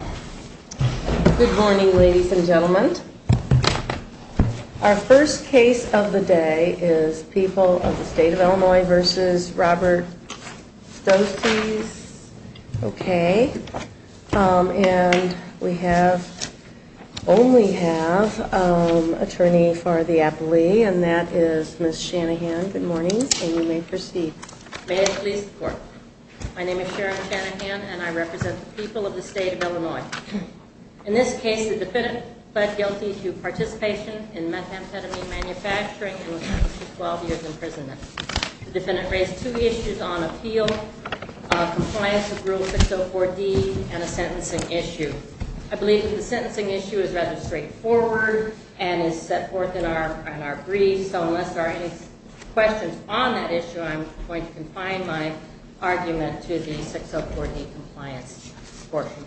Good morning, ladies and gentlemen. Our first case of the day is People of the State of Illinois v. Robert Stoces. Okay. And we have, only have, an attorney for the appellee, and that is Ms. Shanahan. Good morning, and you may proceed. May it please the court. My name is Sharon Shanahan, and I represent the people of the state of Illinois. In this case, the defendant pled guilty to participation in methamphetamine manufacturing and was sentenced to 12 years in prison. The defendant raised two issues on appeal, compliance with Rule 604D, and a sentencing issue. I believe that the sentencing issue is rather straightforward and is set forth in our brief, so unless there are any questions on that issue, I'm going to confine my argument to the 604D compliance portion.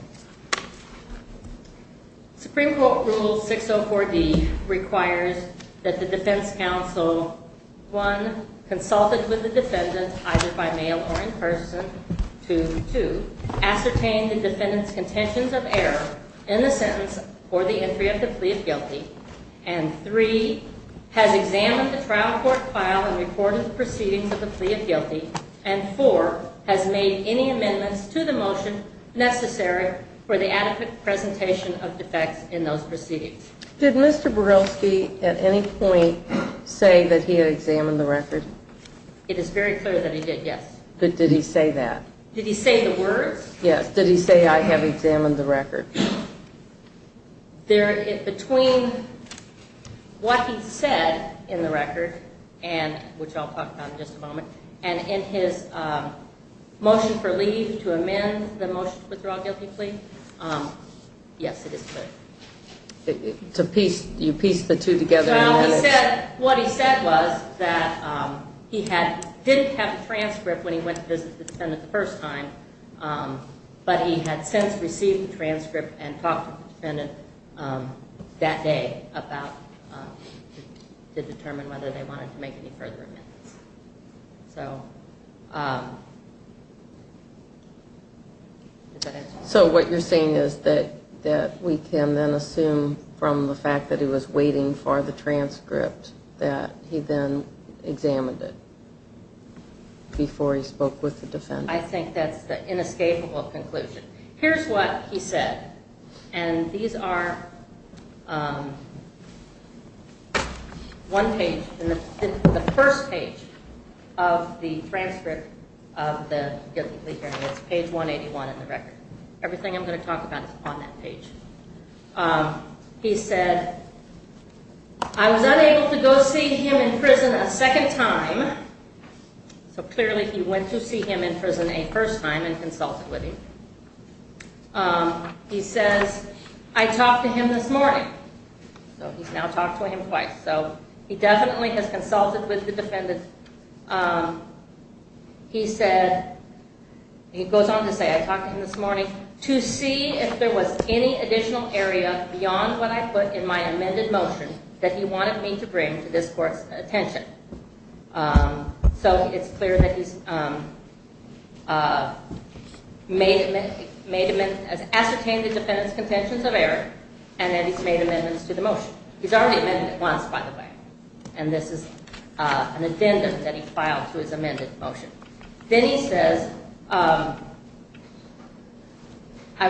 Supreme Court Rule 604D requires that the defense counsel, one, consulted with the defendant, either by mail or in person, two, ascertain the defendant's contentions of error in the sentence or the entry of the plea of guilty, and three, has examined the trial court file and recorded the proceedings of the plea of guilty, and four, has made any amendments to the motion necessary for the adequate presentation of defects in those proceedings. Did Mr. Borilsky at any point say that he had examined the record? It is very clear that he did, yes. But did he say that? Did he say the words? Between what he said in the record, which I'll talk about in just a moment, and in his motion for leave to amend the motion to withdraw a guilty plea, yes, it is clear. You pieced the two together. What he said was that he didn't have the transcript when he went to visit the defendant the first time, but he had since received the transcript and talked to the defendant that day to determine whether they wanted to make any further amendments. So what you're saying is that we can then assume from the fact that he was waiting for the transcript that he then examined it before he spoke with the defendant? I think that's the inescapable conclusion. Here's what he said, and these are one page, the first page of the transcript of the guilty plea hearing. It's page 181 in the record. Everything I'm going to talk about is on that page. He said, I was unable to go see him in prison a second time. So clearly he went to see him in prison a first time and consulted with him. He says, I talked to him this morning. So he's now talked to him twice. So he definitely has consulted with the defendant. He goes on to say, I talked to him this morning to see if there was any additional area beyond what I put in my amended motion that he wanted me to bring to this court's attention. So it's clear that he's ascertained the defendant's contentions of error, and that he's made amendments to the motion. He's already amended it once, by the way. And this is an addendum that he filed to his amended motion. Then he says, I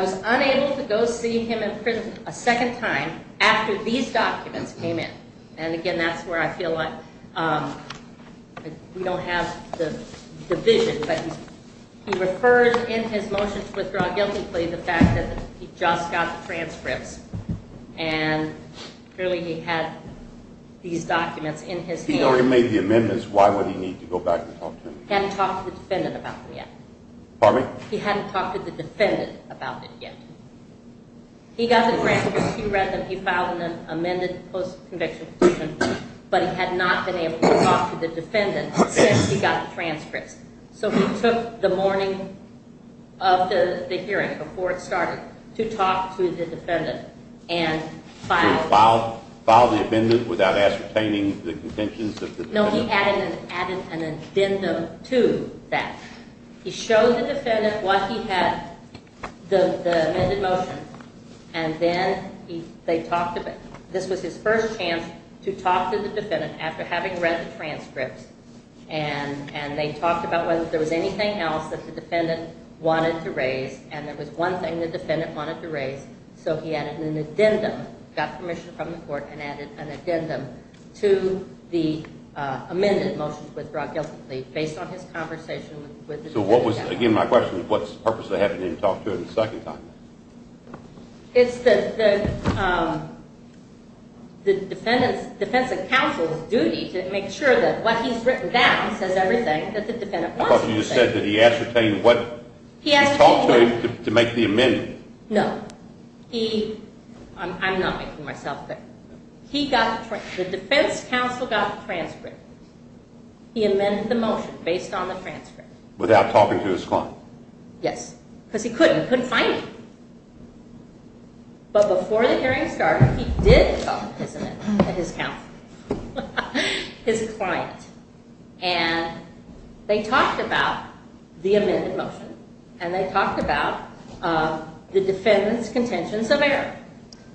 was unable to go see him in prison a second time after these documents came in. And again, that's where I feel like we don't have the vision. But he refers in his motion to withdraw guilty plea the fact that he just got the transcripts. And clearly he had these documents in his hand. He already made the amendments. Why would he need to go back and talk to him again? He hadn't talked to the defendant about it yet. Pardon me? He hadn't talked to the defendant about it yet. He got the transcripts. He read them. He filed an amended post-conviction petition. But he had not been able to talk to the defendant since he got the transcripts. So he took the morning of the hearing, before it started, to talk to the defendant. And filed the amendment without ascertaining the contentions of the defendant? No, he added an addendum to that. He showed the defendant what he had, the amended motion. And then they talked about it. This was his first chance to talk to the defendant after having read the transcripts. And they talked about whether there was anything else that the defendant wanted to raise. And there was one thing the defendant wanted to raise. So he added an addendum. He got permission from the court and added an addendum to the amended motion to withdraw guilty plea, based on his conversation with the defendant. So what was, again, my question is, what's the purpose of having him talk to him a second time? It's the defendant's defense counsel's duty to make sure that what he's written down says everything that the defendant wants to say. I thought you said that he ascertained what he talked to him to make the amendment. No. I'm not making myself clear. The defense counsel got the transcript. He amended the motion based on the transcript. Without talking to his client? Yes. Because he couldn't. He couldn't find him. But before the hearing started, he did talk to his counsel, his client. And they talked about the amended motion. And they talked about the defendant's contentions of error.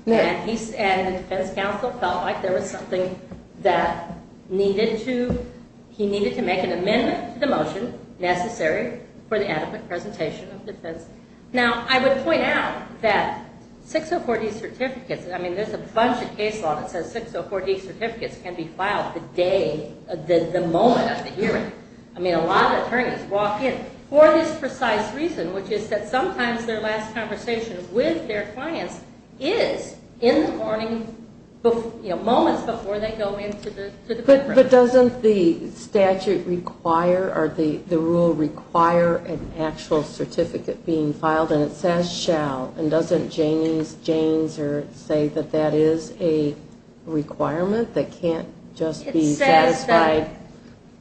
And the defense counsel felt like there was something that he needed to make an amendment to the motion necessary for the adequate presentation of defense. Now, I would point out that 604D certificates, I mean, there's a bunch of case law that says 604D certificates can be filed the day, the moment of the hearing. I mean, a lot of attorneys walk in for this precise reason, which is that sometimes their last conversation with their clients is in the morning, moments before they go into the courtroom. But doesn't the statute require or the rule require an actual certificate being filed? And it says shall. And doesn't Jaynes say that that is a requirement that can't just be satisfied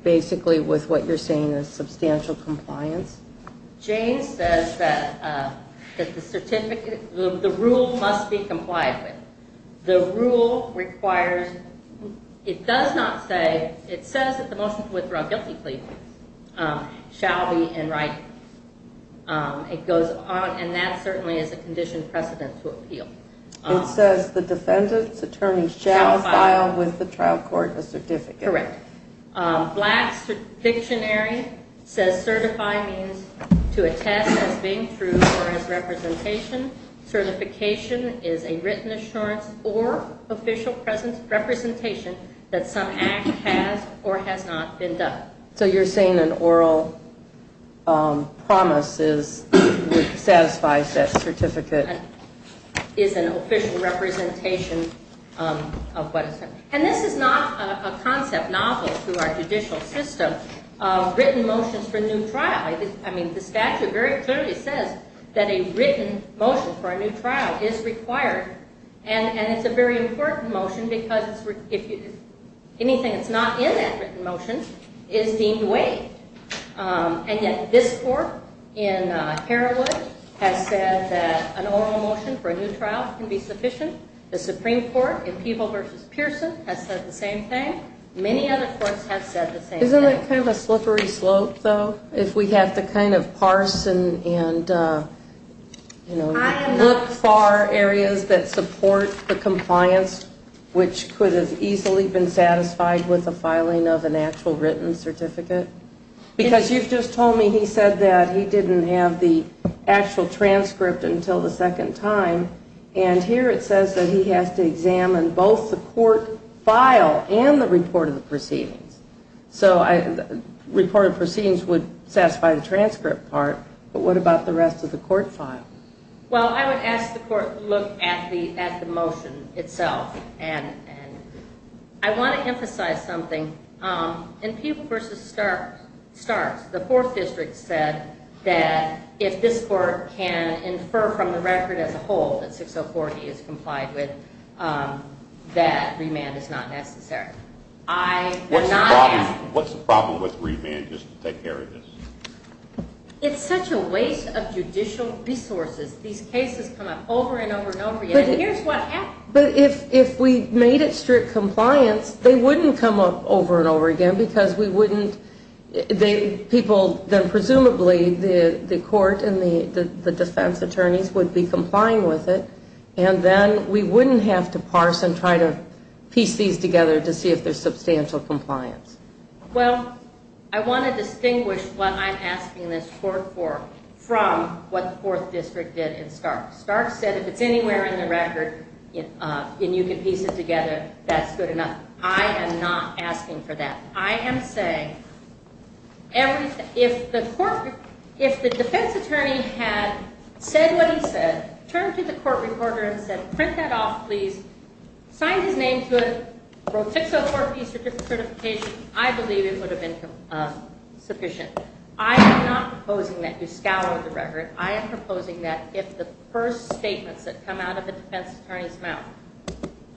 basically with what you're saying is substantial compliance? Jaynes says that the certificate, the rule must be complied with. The rule requires, it does not say, it says that the motion to withdraw guilty plea shall be in writing. It goes on, and that certainly is a conditioned precedent to appeal. It says the defendant's attorney shall file with the trial court a certificate. Correct. Black's dictionary says certify means to attest as being true or as representation. Certification is a written assurance or official representation that some act has or has not been done. So you're saying an oral promise is what satisfies that certificate. Is an official representation of what has happened. And this is not a concept novel through our judicial system of written motions for new trial. I mean, the statute very clearly says that a written motion for a new trial is required. And it's a very important motion because anything that's not in that written motion is deemed waived. And yet this court in Herawood has said that an oral motion for a new trial can be sufficient. The Supreme Court in Peeble v. Pearson has said the same thing. Many other courts have said the same thing. Isn't it kind of a slippery slope, though, if we have to kind of parse and, you know, look for areas that support the compliance which could have easily been satisfied with the filing of an actual written certificate? Because you've just told me he said that he didn't have the actual transcript until the second time. And here it says that he has to examine both the court file and the report of the proceedings. So report of proceedings would satisfy the transcript part, but what about the rest of the court file? Well, I would ask the court to look at the motion itself. And I want to emphasize something. In Peeble v. Starks, the Fourth District said that if this court can infer from the record as a whole that 6040 is complied with, that remand is not necessary. What's the problem with remand just to take care of this? It's such a waste of judicial resources. These cases come up over and over and over again, and here's what happens. But if we made it strict compliance, they wouldn't come up over and over again because we wouldn't – people then presumably, the court and the defense attorneys would be complying with it, and then we wouldn't have to parse and try to piece these together to see if there's substantial compliance. Well, I want to distinguish what I'm asking this court for from what the Fourth District did in Starks. Starks said if it's anywhere in the record and you can piece it together, that's good enough. I am not asking for that. I am saying if the defense attorney had said what he said, turned to the court reporter and said, print that off, please, signed his name to it, wrote 604-P certification, I believe it would have been sufficient. I am not proposing that you scour the record. I am proposing that if the first statements that come out of the defense attorney's mouth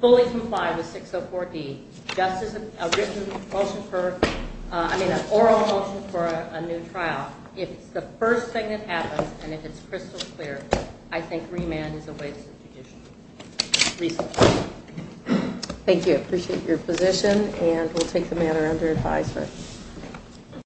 fully comply with 604-D, just as a written motion for – I mean an oral motion for a new trial, if it's the first thing that happens and if it's crystal clear, I think remand is a waste of judicial resources. Thank you. I appreciate your position, and we'll take the matter under advisement.